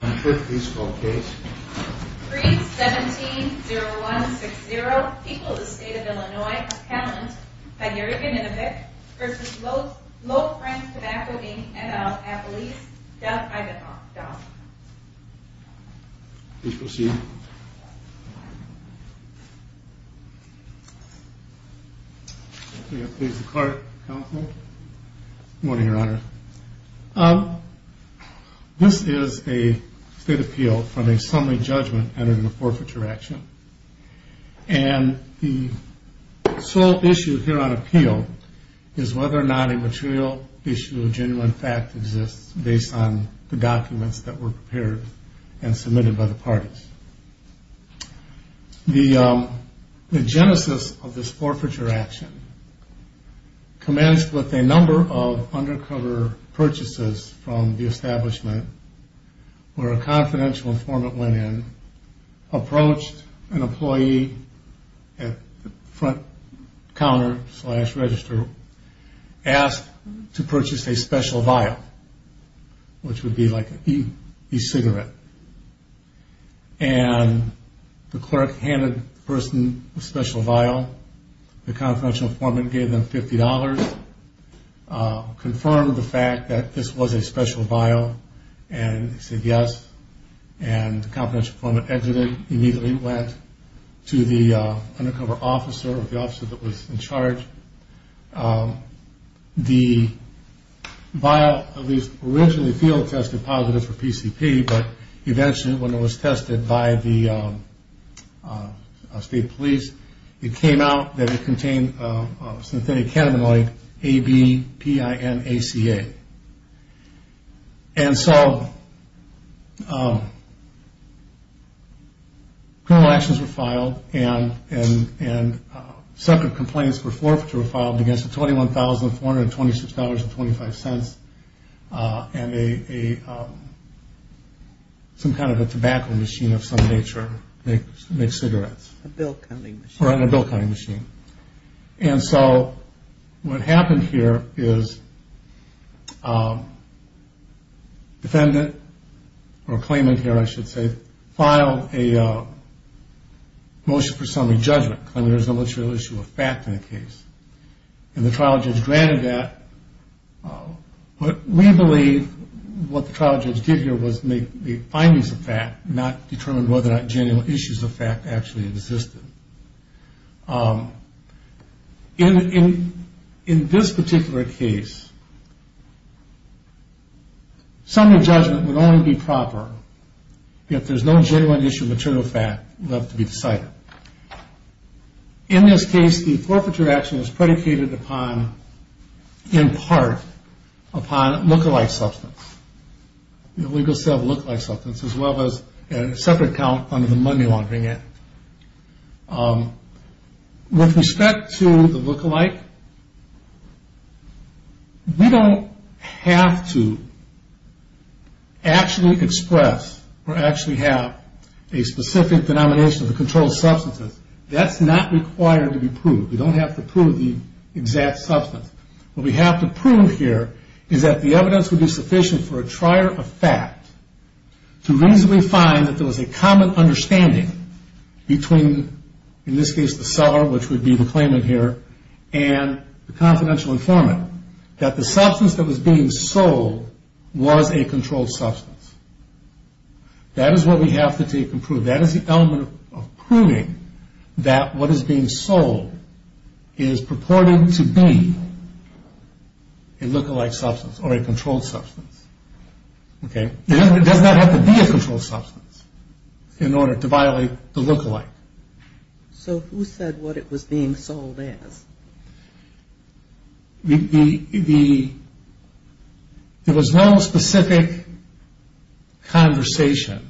$317,016.00 Equals the State of Illinois Accountant by Gary Ganinovich vs. Low Frank Tobacco Inc. NL Appalachia, Duff, Idaho, Duff Please proceed. Please declare, Counsel. Good morning, Your Honor. This is a state appeal from a summary judgment entered in a forfeiture action. And the sole issue here on appeal is whether or not a material issue of genuine fact exists based on the documents that were prepared and submitted by the parties. The genesis of this forfeiture action commenced with a number of undercover purchases from the establishment where a confidential informant went in, approached an employee at the front counter slash register, asked to purchase a special vial, which would be like an e-cigarette. And the clerk handed the person a special vial. The confidential informant gave them $50, confirmed the fact that this was a special vial, and said yes. And the confidential informant exited, immediately went to the undercover officer or the officer that was in charge. The vial, at least originally field tested positive for PCP, but eventually when it was tested by the state police, it came out that it contained synthetic cannabinoid ABPINACA. And so criminal actions were filed and separate complaints for forfeiture were filed against a $21,426.25 and some kind of a tobacco machine of some nature makes cigarettes. Or on a bill cutting machine. And so what happened here is a defendant, or a claimant here I should say, filed a motion for summary judgment, claiming there was no material issue of fact in the case. And the trial judge granted that. But we believe what the trial judge did here was make the findings of fact, not determine whether or not genuine issues of fact actually existed. In this particular case, summary judgment would only be proper if there's no genuine issue of material fact left to be decided. In this case, the forfeiture action was predicated upon, in part, upon look-alike substance. The illegal sale of look-alike substance, as well as a separate count under the money laundering act. With respect to the look-alike, we don't have to actually express or actually have a specific denomination of the controlled substances. That's not required to be proved. We don't have to prove the exact substance. What we have to prove here is that the evidence would be sufficient for a trier of fact to reasonably find that there was a common understanding between, in this case, the seller, which would be the claimant here, and the confidential informant. That the substance that was being sold was a controlled substance. That is what we have to take and prove. That is the element of proving that what is being sold is purported to be a look-alike substance or a controlled substance. It does not have to be a controlled substance in order to violate the look-alike. So who said what it was being sold as? There was no specific conversation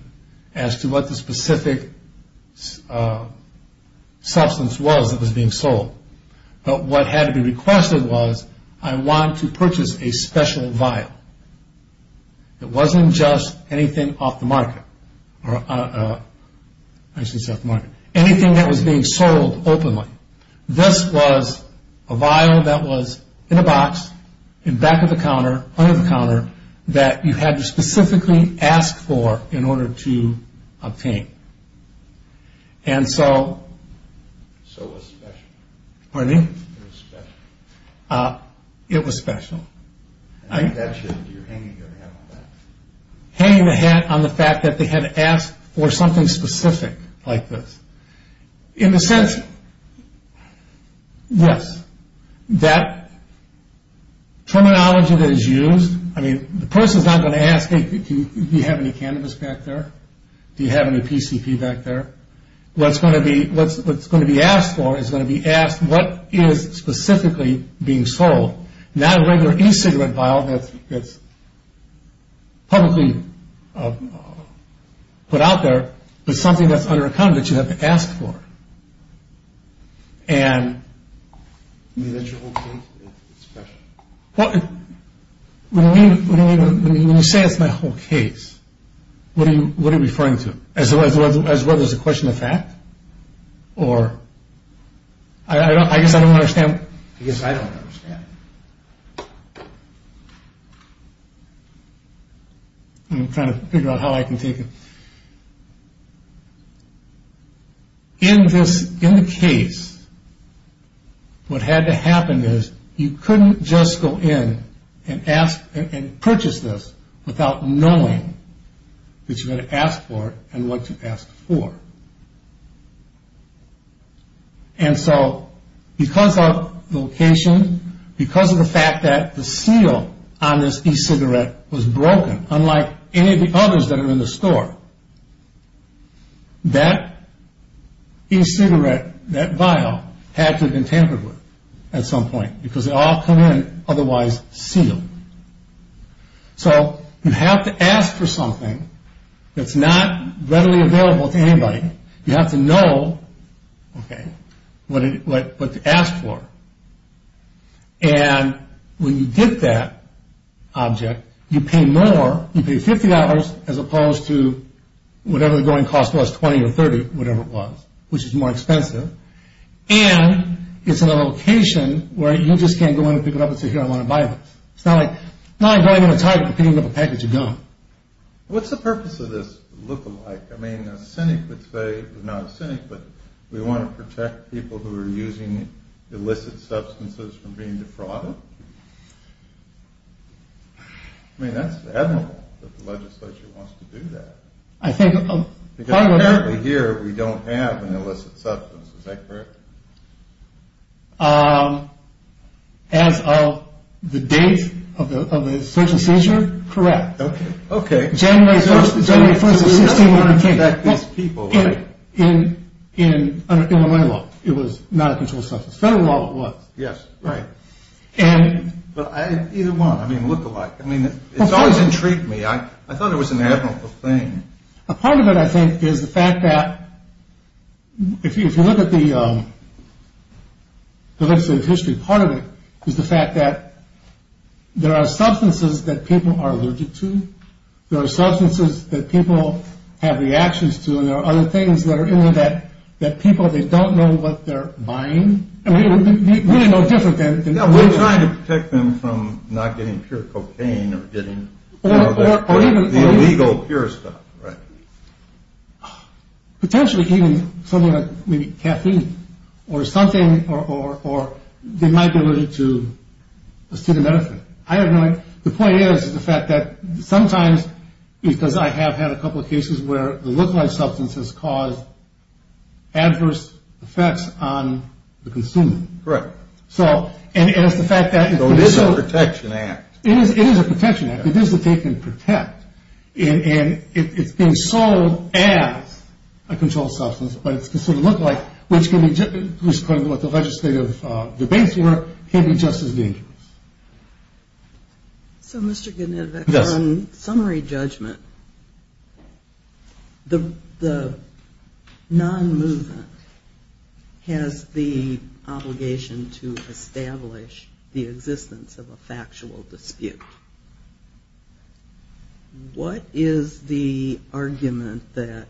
as to what the specific substance was that was being sold. But what had to be requested was, I want to purchase a special vial. It wasn't just anything off the market. Anything that was being sold openly. This was a vial that was in a box, in back of the counter, under the counter, that you had to specifically ask for in order to obtain. And so... So it was special. Pardon me? It was special. It was special. I think that's your hanging on the head on that. Hanging the hat on the fact that they had to ask for something specific like this. In a sense, yes. That terminology that is used... I mean, the person is not going to ask, hey, do you have any cannabis back there? Do you have any PCP back there? What's going to be asked for is going to be asked, what is specifically being sold? Not a regular e-cigarette vial that's publicly put out there, but something that's under account that you have to ask for. And... I mean, that's your whole case? Well, when you say it's my whole case, what are you referring to? As whether it's a question of fact? Or... I guess I don't understand. I guess I don't understand. Okay. I'm trying to figure out how I can take it. In the case, what had to happen is you couldn't just go in and purchase this without knowing that you're going to ask for it and what you asked for. And so, because of the location, because of the fact that the seal on this e-cigarette was broken, unlike any of the others that are in the store, that e-cigarette, that vial, had to have been tampered with at some point because they all come in otherwise sealed. So, you have to ask for something that's not readily available to anybody. You have to know what to ask for. And when you get that object, you pay more. You pay $50 as opposed to whatever the going cost was, $20 or $30, whatever it was, which is more expensive. And it's in a location where you just can't go in and pick it up and say, it's not like going in and picking up a package of gum. What's the purpose of this look-alike? I mean, a cynic would say, not a cynic, but we want to protect people who are using illicit substances from being defrauded? I mean, that's the admiral that the legislature wants to do that. I think part of what... Because apparently here we don't have an illicit substance. Is that correct? As of the date of the search and seizure, correct. Okay. January 1st of 1619. We have to protect these people, right? In Illinois law. It was not a controlled substance. Federal law it was. Yes, right. And... Either one. I mean, look-alike. I mean, it's always intrigued me. I thought it was an admirable thing. A part of it, I think, is the fact that if you look at the legislative history, part of it is the fact that there are substances that people are allergic to. There are substances that people have reactions to, and there are other things that are in there that people, they don't know what they're buying. I mean, really no different than... Yeah, we're trying to protect them from not getting pure cocaine or getting... Or even... Right. Potentially even something like maybe caffeine or something, or they might be allergic to acetaminophen. I have no idea. The point is the fact that sometimes, because I have had a couple of cases where the look-alike substance has caused adverse effects on the consumer. Correct. So, and it's the fact that... So it is a protection act. It is a protection act. It is that they can protect. And it's been sold as a controlled substance, but it's considered look-alike, which, according to what the legislative debates were, can be just as dangerous. So, Mr. Genetovic, on summary judgment, the non-movement has the obligation to establish the existence of a factual dispute. What is the argument that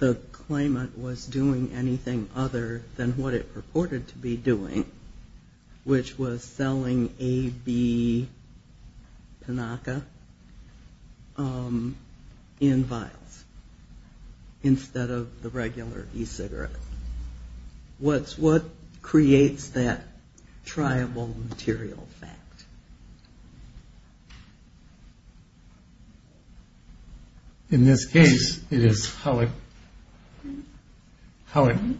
the claimant was doing anything other than what it purported to be doing, which was selling AB Pinaka in vials instead of the regular e-cigarette? What creates that triable material fact? In this case, it is how it,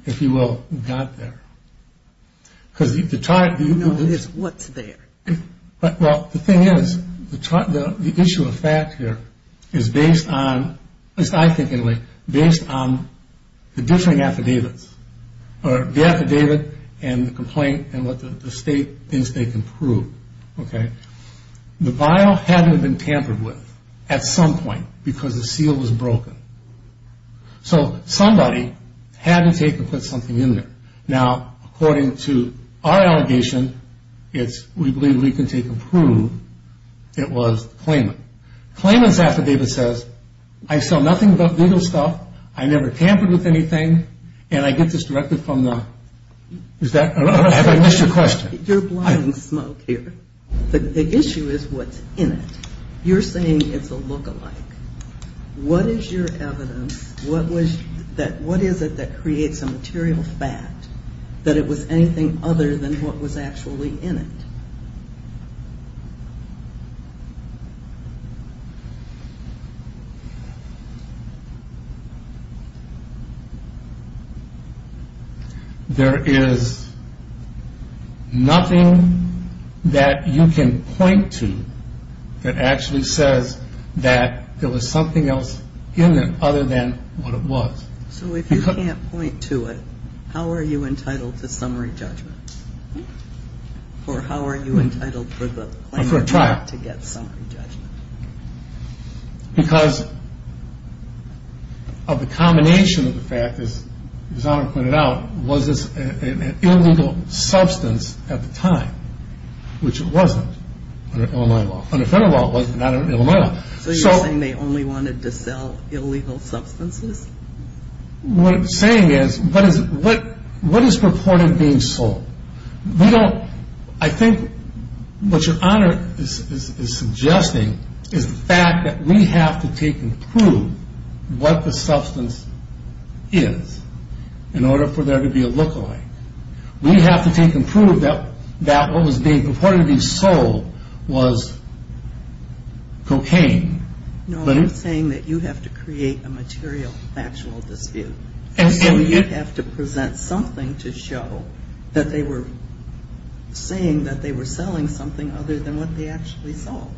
if you will, got there. What's there? Well, the thing is, the issue of fact here is based on, at least I think anyway, based on the differing affidavits, or the affidavit and the complaint and what the state thinks they can prove. Okay? The vial hadn't been tampered with at some point because the seal was broken. So somebody had to take and put something in there. Now, according to our allegation, it's, we believe we can take and prove it was the claimant. Claimant's affidavit says, I sell nothing but legal stuff, I never tampered with anything, and I get this directly from the, is that, have I missed your question? You're blowing smoke here. The issue is what's in it. You're saying it's a lookalike. What is your evidence, what is it that creates a material fact that it was anything other than what was actually in it? There is nothing that you can point to that actually says that there was something else in it other than what it was. So if you can't point to it, how are you entitled to summary judgment? Hmm? Or how are you entitled for the claimant to get summary judgment? For a trial. Because of the combination of the fact, as Your Honor pointed out, was this an illegal substance at the time, which it wasn't under Illinois law. Under federal law it was, not under Illinois law. So you're saying they only wanted to sell illegal substances? What I'm saying is, what is purported being sold? We don't, I think what Your Honor is suggesting is the fact that we have to take and prove what the substance is in order for there to be a lookalike. We have to take and prove that what was being purportedly sold was cocaine. No, I'm saying that you have to create a material factual dispute. And so you have to present something to show that they were saying that they were selling something other than what they actually sold.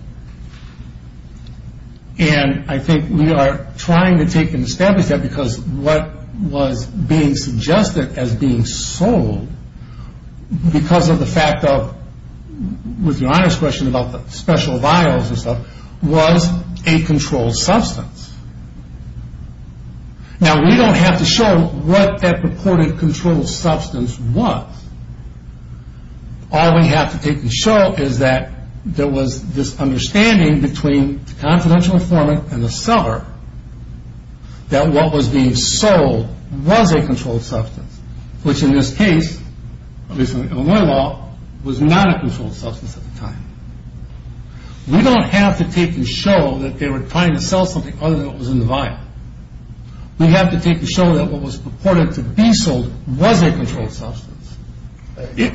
And I think we are trying to take and establish that because what was being suggested as being sold, because of the fact of, with Your Honor's question about the special vials and stuff, was a controlled substance. Now we don't have to show what that purported controlled substance was. All we have to take and show is that there was this understanding between the confidential informant and the seller that what was being sold was a controlled substance, which in this case, at least in the Illinois law, was not a controlled substance at the time. We don't have to take and show that they were trying to sell something other than what was in the vial. We have to take and show that what was purported to be sold was a controlled substance. It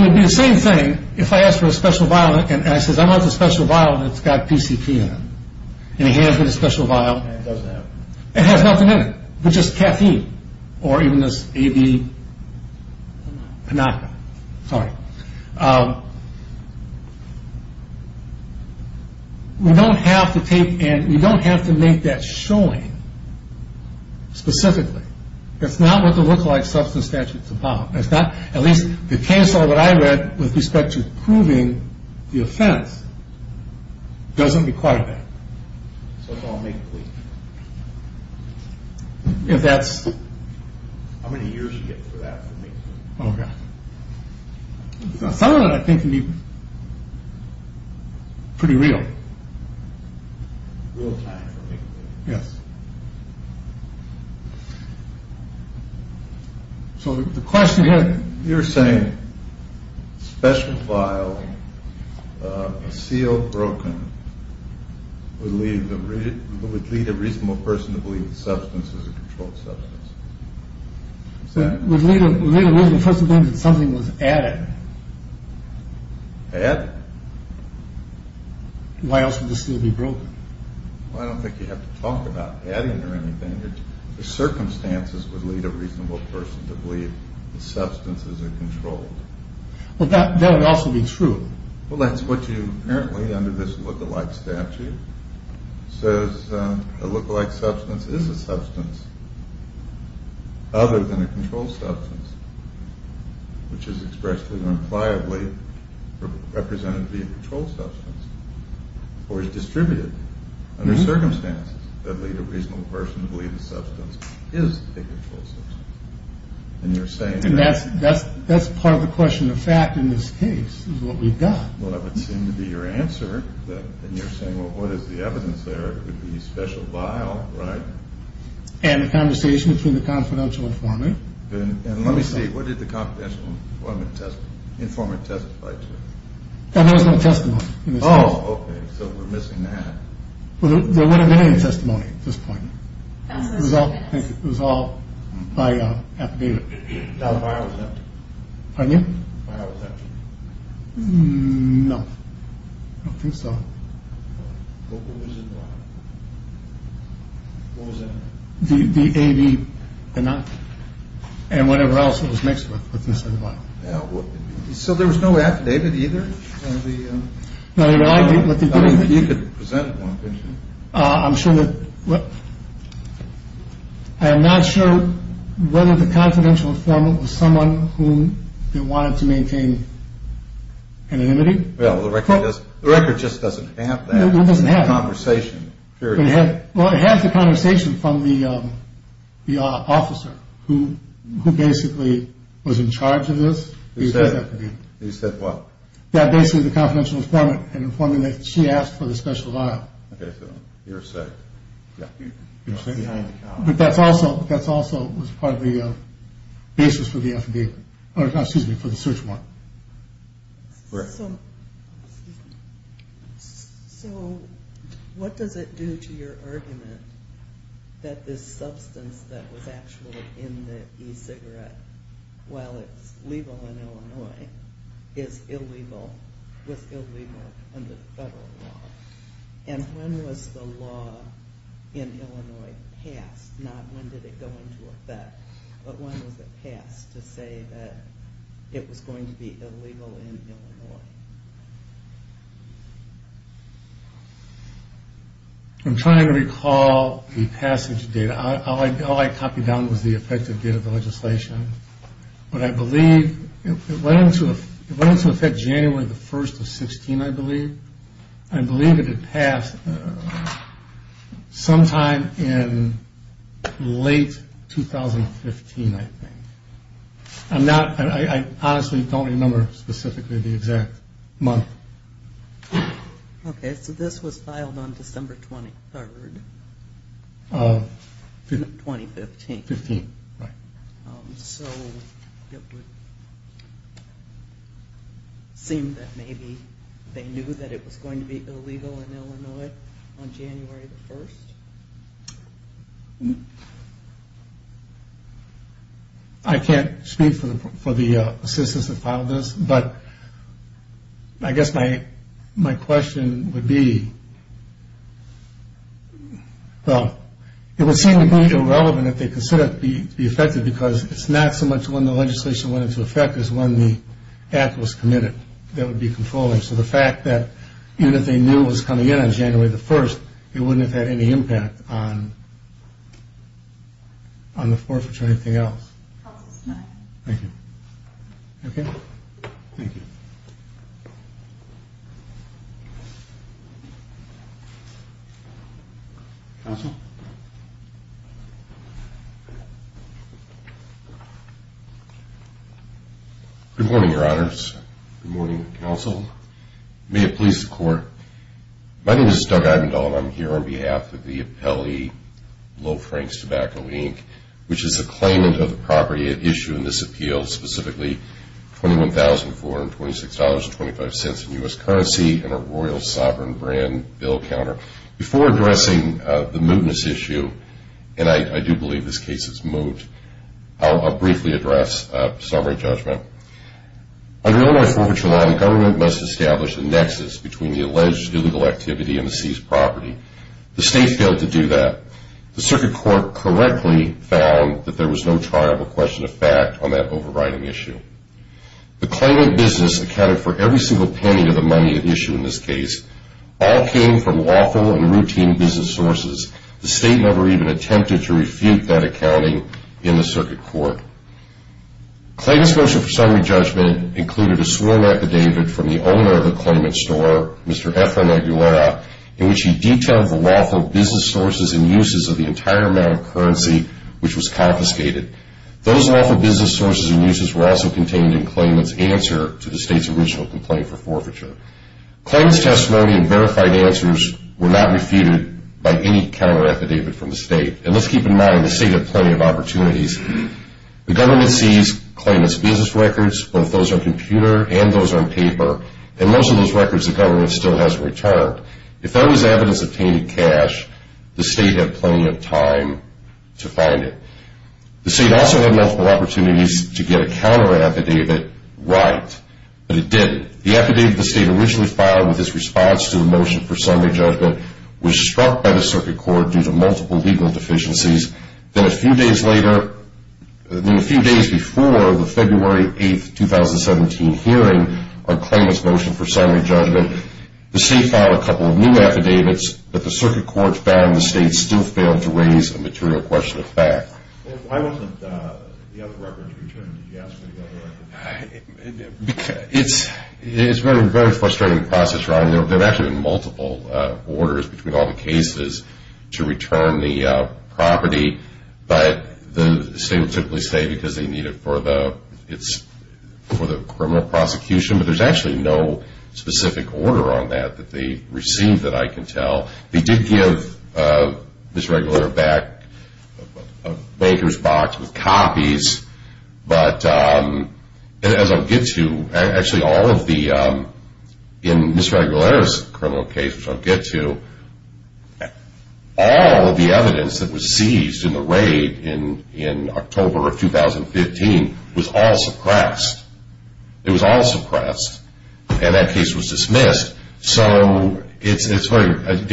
would be the same thing if I asked for a special vial and I says, I want the special vial that's got PCP in it. And he hands me the special vial and it has nothing in it, but just caffeine or even this AB Pinaka. Sorry. We don't have to take and we don't have to make that showing specifically. That's not what the lookalike substance statute is about. At least the case law that I read with respect to proving the offense doesn't require that. So it's all make-believe? If that's... How many years do you get for that for make-believe? Some of it I think can be pretty real. Real time for make-believe? Yes. So the question here... You're saying special vial, a seal broken, would lead a reasonable person to believe the substance is a controlled substance. Would lead a reasonable person to believe that something was added. Added? Why else would the seal be broken? I don't think you have to talk about adding or anything. Circumstances would lead a reasonable person to believe the substance is a controlled. Well, that would also be true. Well, that's what you apparently under this lookalike statute says. A lookalike substance is a substance other than a controlled substance, which is expressly and impliably represented to be a controlled substance or is distributed under circumstances that lead a reasonable person to believe the substance is a controlled substance. And you're saying... And that's part of the question of fact in this case is what we've got. Well, that would seem to be your answer. And you're saying, well, what is the evidence there? It would be special vial, right? And the conversation between the confidential and formal. And let me see. What did the confidential informant testify to? There was no testimony in this case. Oh, okay. So we're missing that. Well, there wouldn't have been any testimony at this point. It was all by affidavit. The vial was empty? Pardon you? The vial was empty? No. I don't think so. What was in the vial? What was in it? The A, B, and whatever else that was mixed with. So there was no affidavit either? I mean, you could present one, couldn't you? I'm not sure whether the confidential informant was someone who wanted to maintain anonymity. Well, the record just doesn't have that conversation, period. Well, it has the conversation from the officer who basically was in charge of this. He said what? Yeah, basically the confidential informant had informed him that she asked for the special vial. Okay, so you're safe. Yeah. You're safe. But that also was part of the basis for the search warrant. Correct. So what does it do to your argument that this substance that was actually in the e-cigarette, while it's legal in Illinois, is illegal, was illegal under federal law? And when was the law in Illinois passed? Not when did it go into effect, but when was it passed to say that it was going to be illegal in Illinois? I'm trying to recall the passage of data. All I copied down was the effective date of the legislation. But I believe it went into effect January the 1st of 16, I believe. I believe that it passed sometime in late 2015, I think. I honestly don't remember specifically the exact month. Okay, so this was filed on December 23rd of 2015. So it would seem that maybe they knew that it was going to be illegal in Illinois on January the 1st? I can't speak for the assistance that filed this, but I guess my question would be, well, it would seem to be irrelevant if they considered it to be effective because it's not so much when the legislation went into effect as when the act was committed that would be controlling. So the fact that even if they knew it was coming in on January the 1st, it wouldn't have had any impact on the forfeiture or anything else. Thank you. Okay, thank you. Counsel? Good morning, Your Honors. Good morning, Counsel. May it please the Court. My name is Doug Eibendoll, and I'm here on behalf of the appellee, Low Franks Tobacco, Inc., which is a claimant of the property at issue in this appeal, specifically $21,426.25 in U.S. currency and a Royal Sovereign brand bill counter. Before addressing the mootness issue, and I do believe this case is moot, I'll briefly address summary judgment. Under Illinois Forfeiture Law, the government must establish a nexus between the alleged illegal activity and the seized property. The State failed to do that. The Circuit Court correctly found that there was no trial or question of fact on that overriding issue. The claimant business accounted for every single penny of the money at issue in this case. All came from lawful and routine business sources. The State never even attempted to refute that accounting in the Circuit Court. Claimant's motion for summary judgment included a sworn affidavit from the owner of the claimant's store, Mr. Efren Aguilera, in which he detailed the lawful business sources and uses of the entire amount of currency which was confiscated. Those lawful business sources and uses were also contained in claimant's answer to the State's original complaint for forfeiture. Claimant's testimony and verified answers were not refuted by any counter affidavit from the State. And let's keep in mind, the State had plenty of opportunities. The government seized claimant's business records, both those on computer and those on paper, and most of those records the government still hasn't returned. If that was evidence of tainted cash, the State had plenty of time to find it. The State also had multiple opportunities to get a counter affidavit right, but it didn't. The affidavit the State originally filed with its response to the motion for summary judgment was struck by the Circuit Court due to multiple legal deficiencies. Then a few days before the February 8, 2017, hearing on claimant's motion for summary judgment, the State filed a couple of new affidavits, but the Circuit Court found the State still failed to raise a material question of fact. Why wasn't the other records returned? It's a very frustrating process, Ron. There have actually been multiple orders between all the cases to return the property, but the State will typically say because they need it for the criminal prosecution, but there's actually no specific order on that that they received that I can tell. They did give Ms. Regular back a baker's box with copies, but as I'll get to, actually in Ms. Regular's criminal case, which I'll get to, all of the evidence that was seized in the raid in October of 2015 was all suppressed. It was all suppressed, and that case was dismissed. So to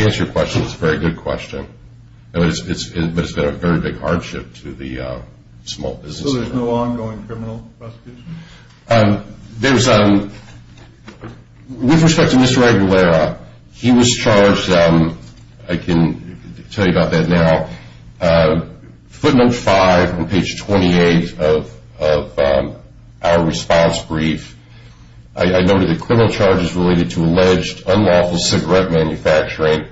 answer your question, it's a very good question, but it's been a very big hardship to the small businesses. So there's no ongoing criminal prosecution? With respect to Mr. Aguilera, he was charged, I can tell you about that now, footnote 5 on page 28 of our response brief. I noted that criminal charges related to alleged unlawful cigarette manufacturing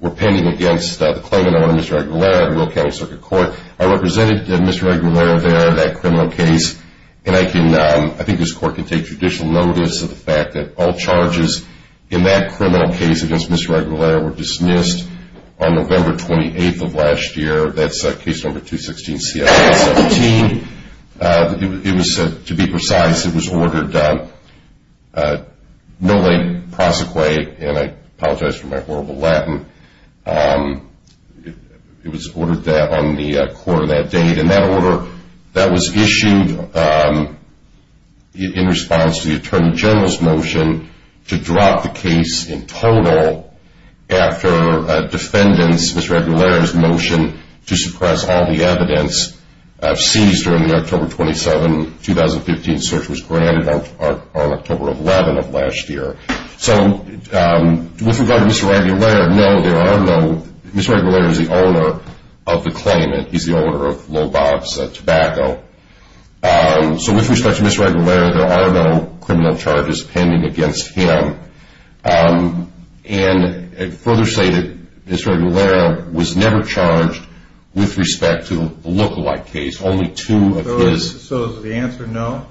were pending against the claimant owner, Mr. Aguilera, of the Will County Circuit Court. I represented Mr. Aguilera there in that criminal case, and I think this Court can take judicial notice of the fact that all charges in that criminal case against Mr. Aguilera were dismissed on November 28th of last year. That's case number 216C-117. It was, to be precise, it was ordered no late prosecute, and I apologize for my horrible Latin. It was ordered that on the quarter of that date, and that order, that was issued in response to the Attorney General's motion to drop the case in total after a defendant's, Mr. Aguilera's, motion to suppress all the evidence seized during the October 27th, 2015 search was granted on October 11th of last year. So with regard to Mr. Aguilera, no, there are no, Mr. Aguilera is the owner of the claimant. He's the owner of Lobox Tobacco. So with respect to Mr. Aguilera, there are no criminal charges pending against him. And further stated, Mr. Aguilera was never charged with respect to the lookalike case. Only two of his... So is the answer no?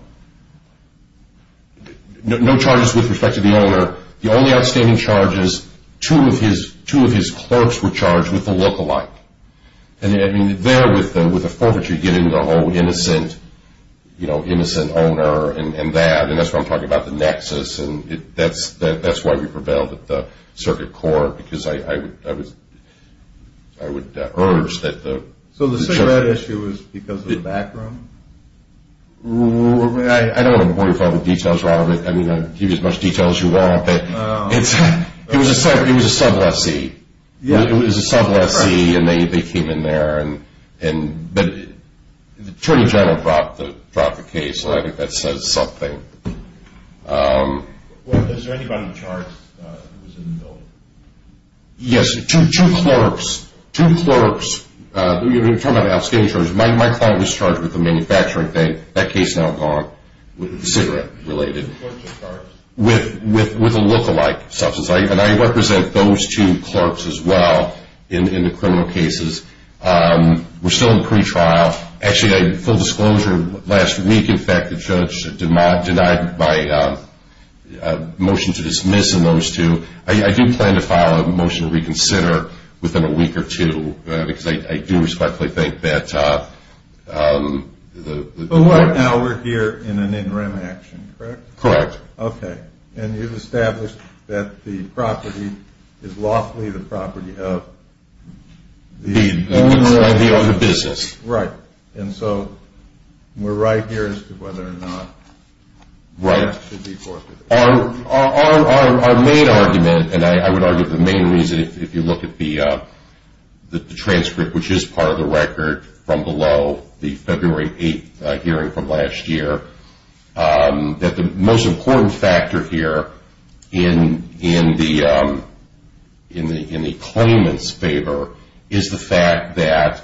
No charges with respect to the owner. The only outstanding charge is two of his clerks were charged with the lookalike. And there, with the forfeiture, you get into the whole innocent owner and that, and that's why I'm talking about the nexus, and that's why we prevailed at the circuit court, because I would urge that the... So the cigarette issue was because of the background? I don't want to bore you with all the details. I mean, I'll give you as much detail as you want, but it was a sub lessee. It was a sub lessee, and they came in there. But the attorney general brought the case, and I think that says something. Well, is there anybody charged who was in the building? Yes, two clerks, two clerks. You're talking about outstanding charges. My client was charged with the manufacturing thing. That case is now gone with the cigarette-related. Two clerks or clerks? With a lookalike substance. And I represent those two clerks as well in the criminal cases. We're still in pretrial. Actually, full disclosure, last week, in fact, the judge denied my motion to dismiss in those two. I do plan to file a motion to reconsider within a week or two, because I do respectfully think that the... But right now we're here in an interim action, correct? Correct. Okay. And you've established that the property is lawfully the property of the owner? The owner of the business. Right. And so we're right here as to whether or not that should be forthwith. Our main argument, and I would argue the main reason, if you look at the transcript, which is part of the record from below the February 8th hearing from last year, that the most important factor here in the claimant's favor is the fact that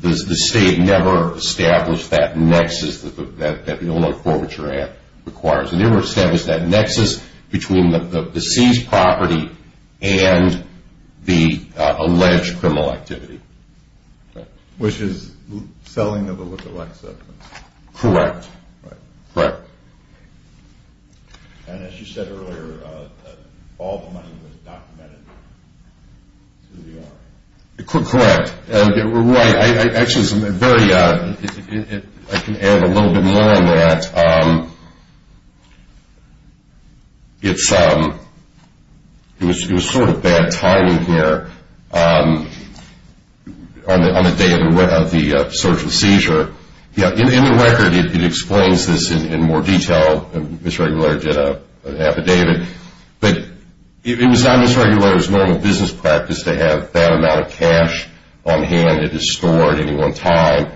the state never established that nexus that the owner forfeiture act requires. They never established that nexus between the seized property and the alleged criminal activity. Which is selling of a lookalike substance. Correct. Right. Correct. And as you said earlier, all the money was documented to the owner. Correct. Right. Actually, I can add a little bit more on that. It was sort of bad timing here on the day of the search and seizure. In the record, it explains this in more detail. Ms. Regulator did an affidavit. It was not Ms. Regulator's normal business practice to have that amount of cash on hand at his store at any one time.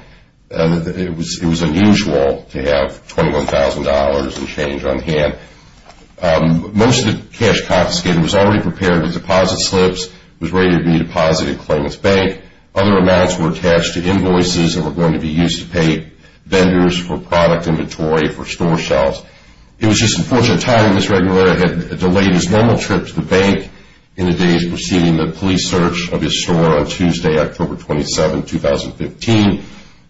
It was unusual to have $21,000 in change on hand. Most of the cash confiscated was already prepared with deposit slips, was ready to be deposited at the claimant's bank. Other amounts were attached to invoices that were going to be used to pay vendors for product inventory for store shelves. It was just unfortunate timing. Ms. Regulator had delayed his normal trip to the bank in the days preceding the police search of his store on Tuesday, October 27, 2015.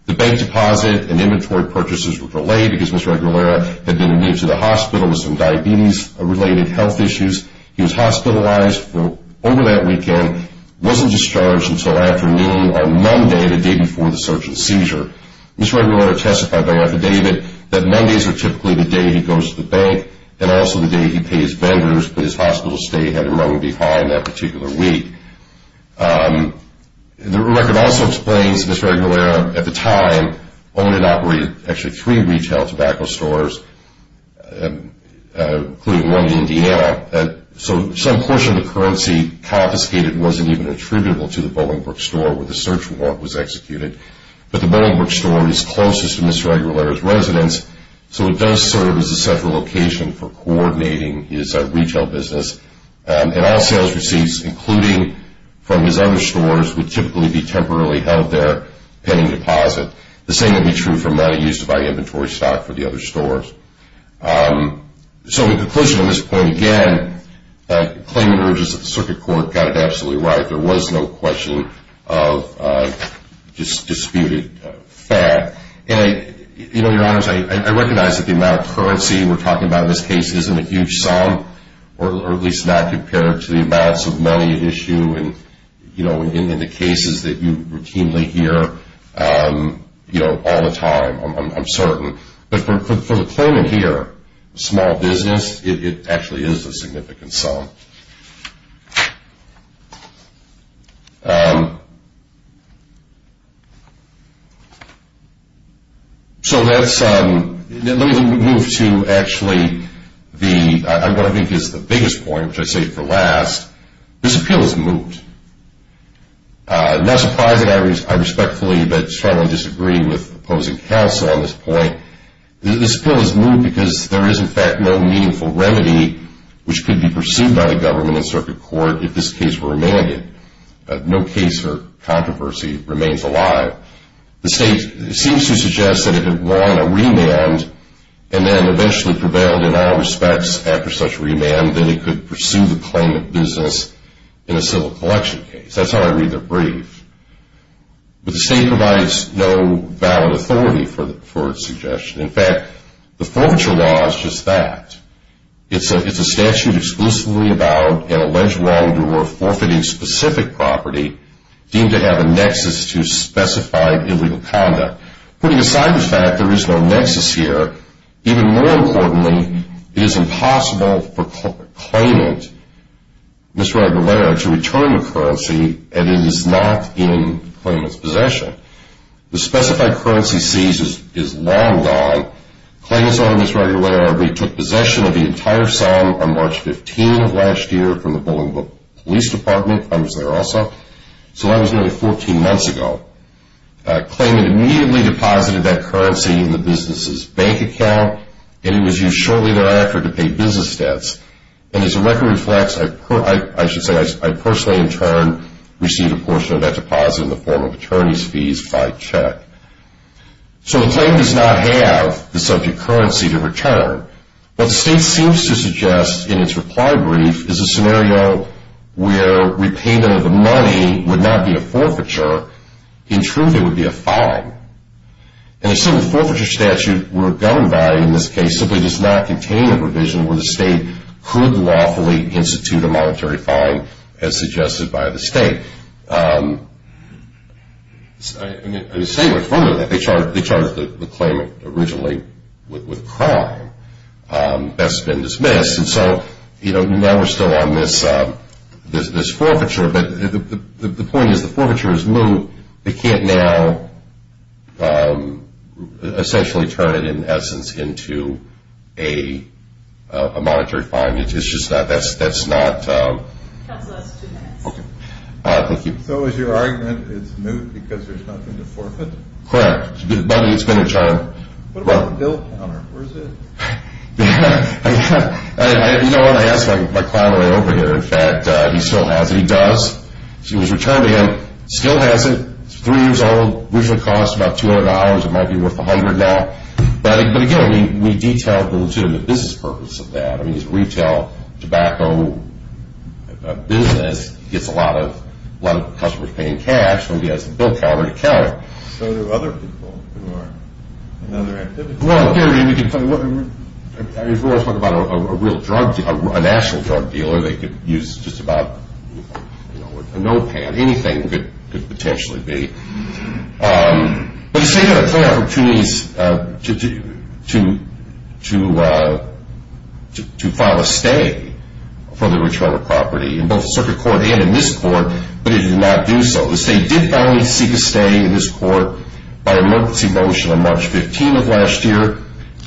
The bank deposit and inventory purchases were delayed because Ms. Regulator had been admitted to the hospital with some diabetes-related health issues. He was hospitalized for over that weekend, wasn't discharged until afternoon on Monday, the day before the search and seizure. Ms. Regulator testified by affidavit that Mondays were typically the day he goes to the bank and also the day he pays vendors, but his hospital stay had to run behind that particular week. The record also explains Ms. Regulator, at the time, owned and operated actually three retail tobacco stores, including one in Indiana. So some portion of the currency confiscated wasn't even attributable to the Bolingbroke store where the search warrant was executed. But the Bolingbroke store is closest to Ms. Regulator's residence, so it does serve as a central location for coordinating his retail business. And all sales receipts, including from his other stores, would typically be temporarily held there, pending deposit. The same would be true for money used to buy inventory stock for the other stores. So in conclusion, on this point again, the claimant urges that the Circuit Court got it absolutely right. There was no question of disputed fact. And, you know, Your Honors, I recognize that the amount of currency we're talking about in this case isn't a huge sum, or at least not compared to the amounts of money at issue in the cases that you routinely hear all the time, I'm certain. But for the claimant here, small business, it actually is a significant sum. So let's move to actually what I think is the biggest point, which I saved for last. This appeal has moved. Not surprisingly, I respectfully but strongly disagree with opposing counsel on this point. This appeal has moved because there is, in fact, no meaningful remedy which could be pursued by the government in Circuit Court if this case were remanded. No case or controversy remains alive. The State seems to suggest that if it won a remand and then eventually prevailed in all respects after such a remand, then it could pursue the claimant business in a civil collection case. That's how I read their brief. But the State provides no valid authority for its suggestion. In fact, the forfeiture law is just that. It's a statute exclusively about an alleged wrongdoer forfeiting specific property deemed to have a nexus to specified illegal conduct. Putting aside the fact there is no nexus here, even more importantly, it is impossible for the claimant, Mr. Aguilera, to return the currency and it is not in the claimant's possession. The specified currency seized is long gone. Claimant's owner, Mr. Aguilera, retook possession of the entire sum on March 15 of last year from the Bolingbrook Police Department. I was there also. So that was nearly 14 months ago. Claimant immediately deposited that currency in the business's bank account and it was used shortly thereafter to pay business debts. And as the record reflects, I personally in turn received a portion of that deposit in the form of attorney's fees by check. So the claimant does not have the subject currency to return. What the state seems to suggest in its reply brief is a scenario where repayment of the money would not be a forfeiture. In truth, it would be a fine. And the civil forfeiture statute we're governed by in this case simply does not contain a provision where the state could lawfully institute a monetary fine as suggested by the state. And the state went further than that. They charged the claimant originally with a crime. That's been dismissed. And so, you know, now we're still on this forfeiture. But the point is the forfeiture is moved. They can't now essentially turn it, in essence, into a monetary fine. It's just not – that's not – Thank you. So is your argument it's moved because there's nothing to forfeit? Correct. But it's been returned. What about the bill counter? Where is it? You know what? I asked my client way over here. In fact, he still has it. He does. It was returned to him. Still has it. It's three years old. Originally cost about $200. It might be worth $100 now. But, again, we detailed the legitimate business purpose of that. I mean, he's a retail tobacco business. He gets a lot of customers paying cash. So he has a bill counter to count it. So there are other people who are in other activities. Well, Gary, we can talk – I mean, we're always talking about a real drug dealer, a national drug dealer. They could use just about a notepad. Anything could potentially be. But the state had a ton of opportunities to file a stay for the return of property, in both the circuit court and in this court, but it did not do so. The state did finally seek a stay in this court by emergency motion on March 15th of last year,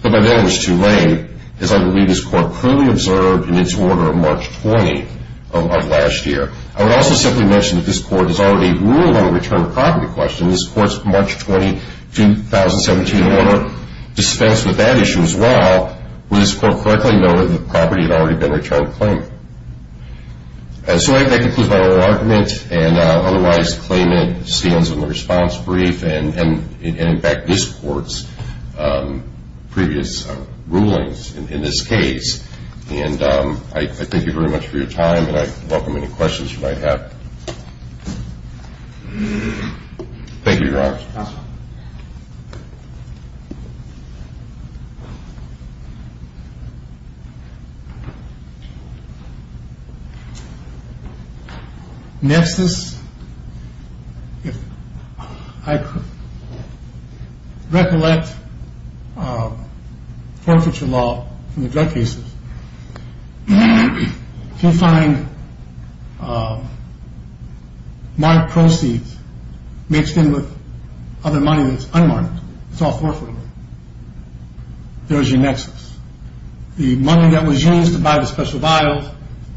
but by then it was too late, as I believe this court clearly observed in its order on March 20th of last year. I would also simply mention that this court has already ruled on a return of property question. This court's March 20, 2017, order dispensed with that issue as well. Would this court correctly know that the property had already been returned to claimant? So I think that concludes my little argument. And otherwise, the claimant stands on the response brief and, in fact, this court's previous rulings in this case. And I thank you very much for your time, and I welcome any questions you might have. Thank you, Your Honor. Next, I recollect forfeiture law in the drug cases. If you find marked proceeds mixed in with other money that's unmarked, it's all forfeiture. There's your nexus. The money that was used to buy the special vials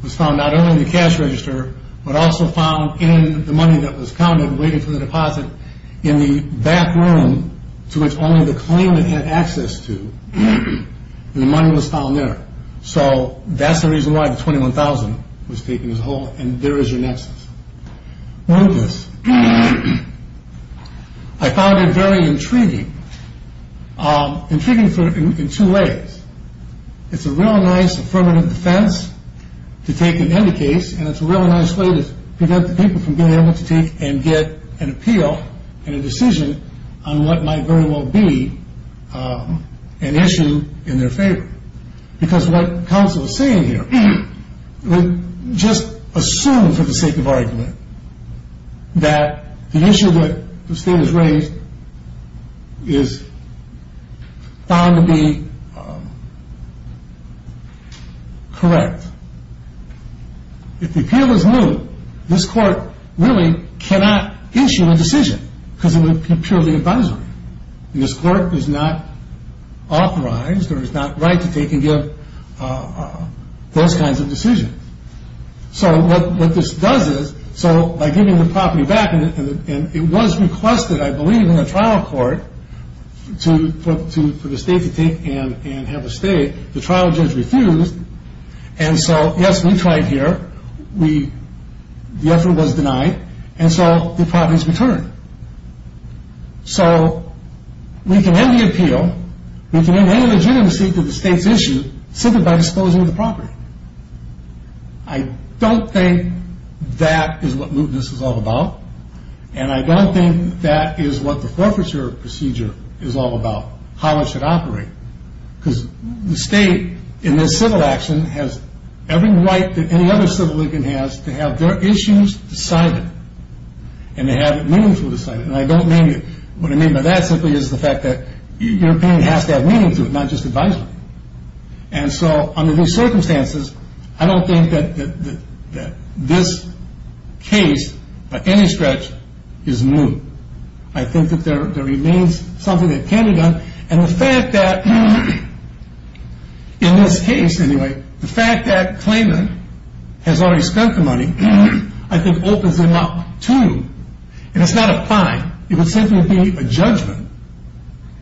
was found not only in the cash register, but also found in the money that was counted waiting for the deposit in the back room, to which only the claimant had access to, and the money was found there. So that's the reason why the $21,000 was taken as a whole, and there is your nexus. What is this? I found it very intriguing, intriguing in two ways. It's a real nice affirmative defense to take in any case, and it's a real nice way to prevent the people from being able to take and get an appeal and a decision on what might very well be an issue in their favor. Because what counsel is saying here, just assume for the sake of argument, that the issue that the state has raised is found to be correct. If the appeal is moot, this court really cannot issue a decision because it would be purely advisory. This court is not authorized or is not right to take and give those kinds of decisions. So what this does is, by giving the property back, and it was requested, I believe, in the trial court for the state to take and have a stay, the trial judge refused, and so yes, we tried here, the effort was denied, and so the property is returned. So we can end the appeal. We can end any legitimacy to the state's issue simply by disposing of the property. I don't think that is what mootness is all about, and I don't think that is what the forfeiture procedure is all about, how it should operate. Because the state, in this civil action, has every right that any other civil legal has to have their issues decided, and to have it meaningful decided, and I don't mean what I mean by that simply is the fact that the European has to have meaning to it, not just advisory. And so under these circumstances, I don't think that this case, by any stretch, is moot. I think that there remains something that can be done, and the fact that, in this case anyway, the fact that claimant has already spent the money, I think opens him up to, and it's not a fine, it would simply be a judgment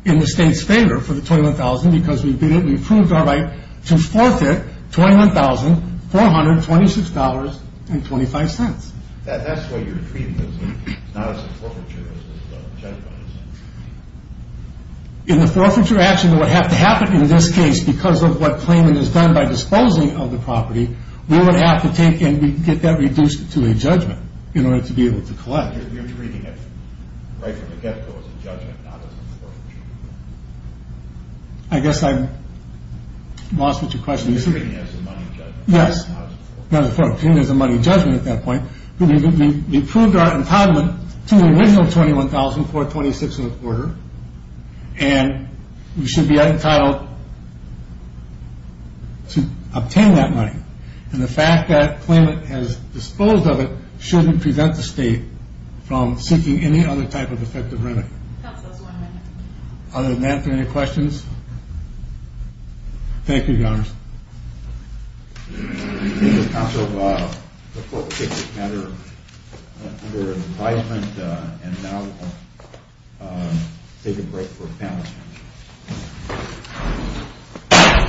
in the state's favor for the $21,000, because we've proved our right to forfeit $21,426.25. That's what you're treating it as, not as a forfeiture, but as a judgment. In the forfeiture action that would have to happen in this case, because of what claimant has done by disposing of the property, we would have to take and get that reduced to a judgment in order to be able to collect. You're treating it right from the get-go as a judgment, not as a forfeiture. I guess I've lost what your question is. You're treating it as a money judgment, not as a forfeiture. Yes, not as a forfeiture. Treating it as a money judgment at that point. We proved our entitlement to the original $21,426.25, and we should be entitled to obtain that money. And the fact that claimant has disposed of it shouldn't prevent the state from seeking any other type of effective remedy. Counsel's one minute. Other than that, are there any questions? Thank you, Your Honors. Thank you, Counsel. The court will take this matter under advisement, and now we'll take a break for panel discussion.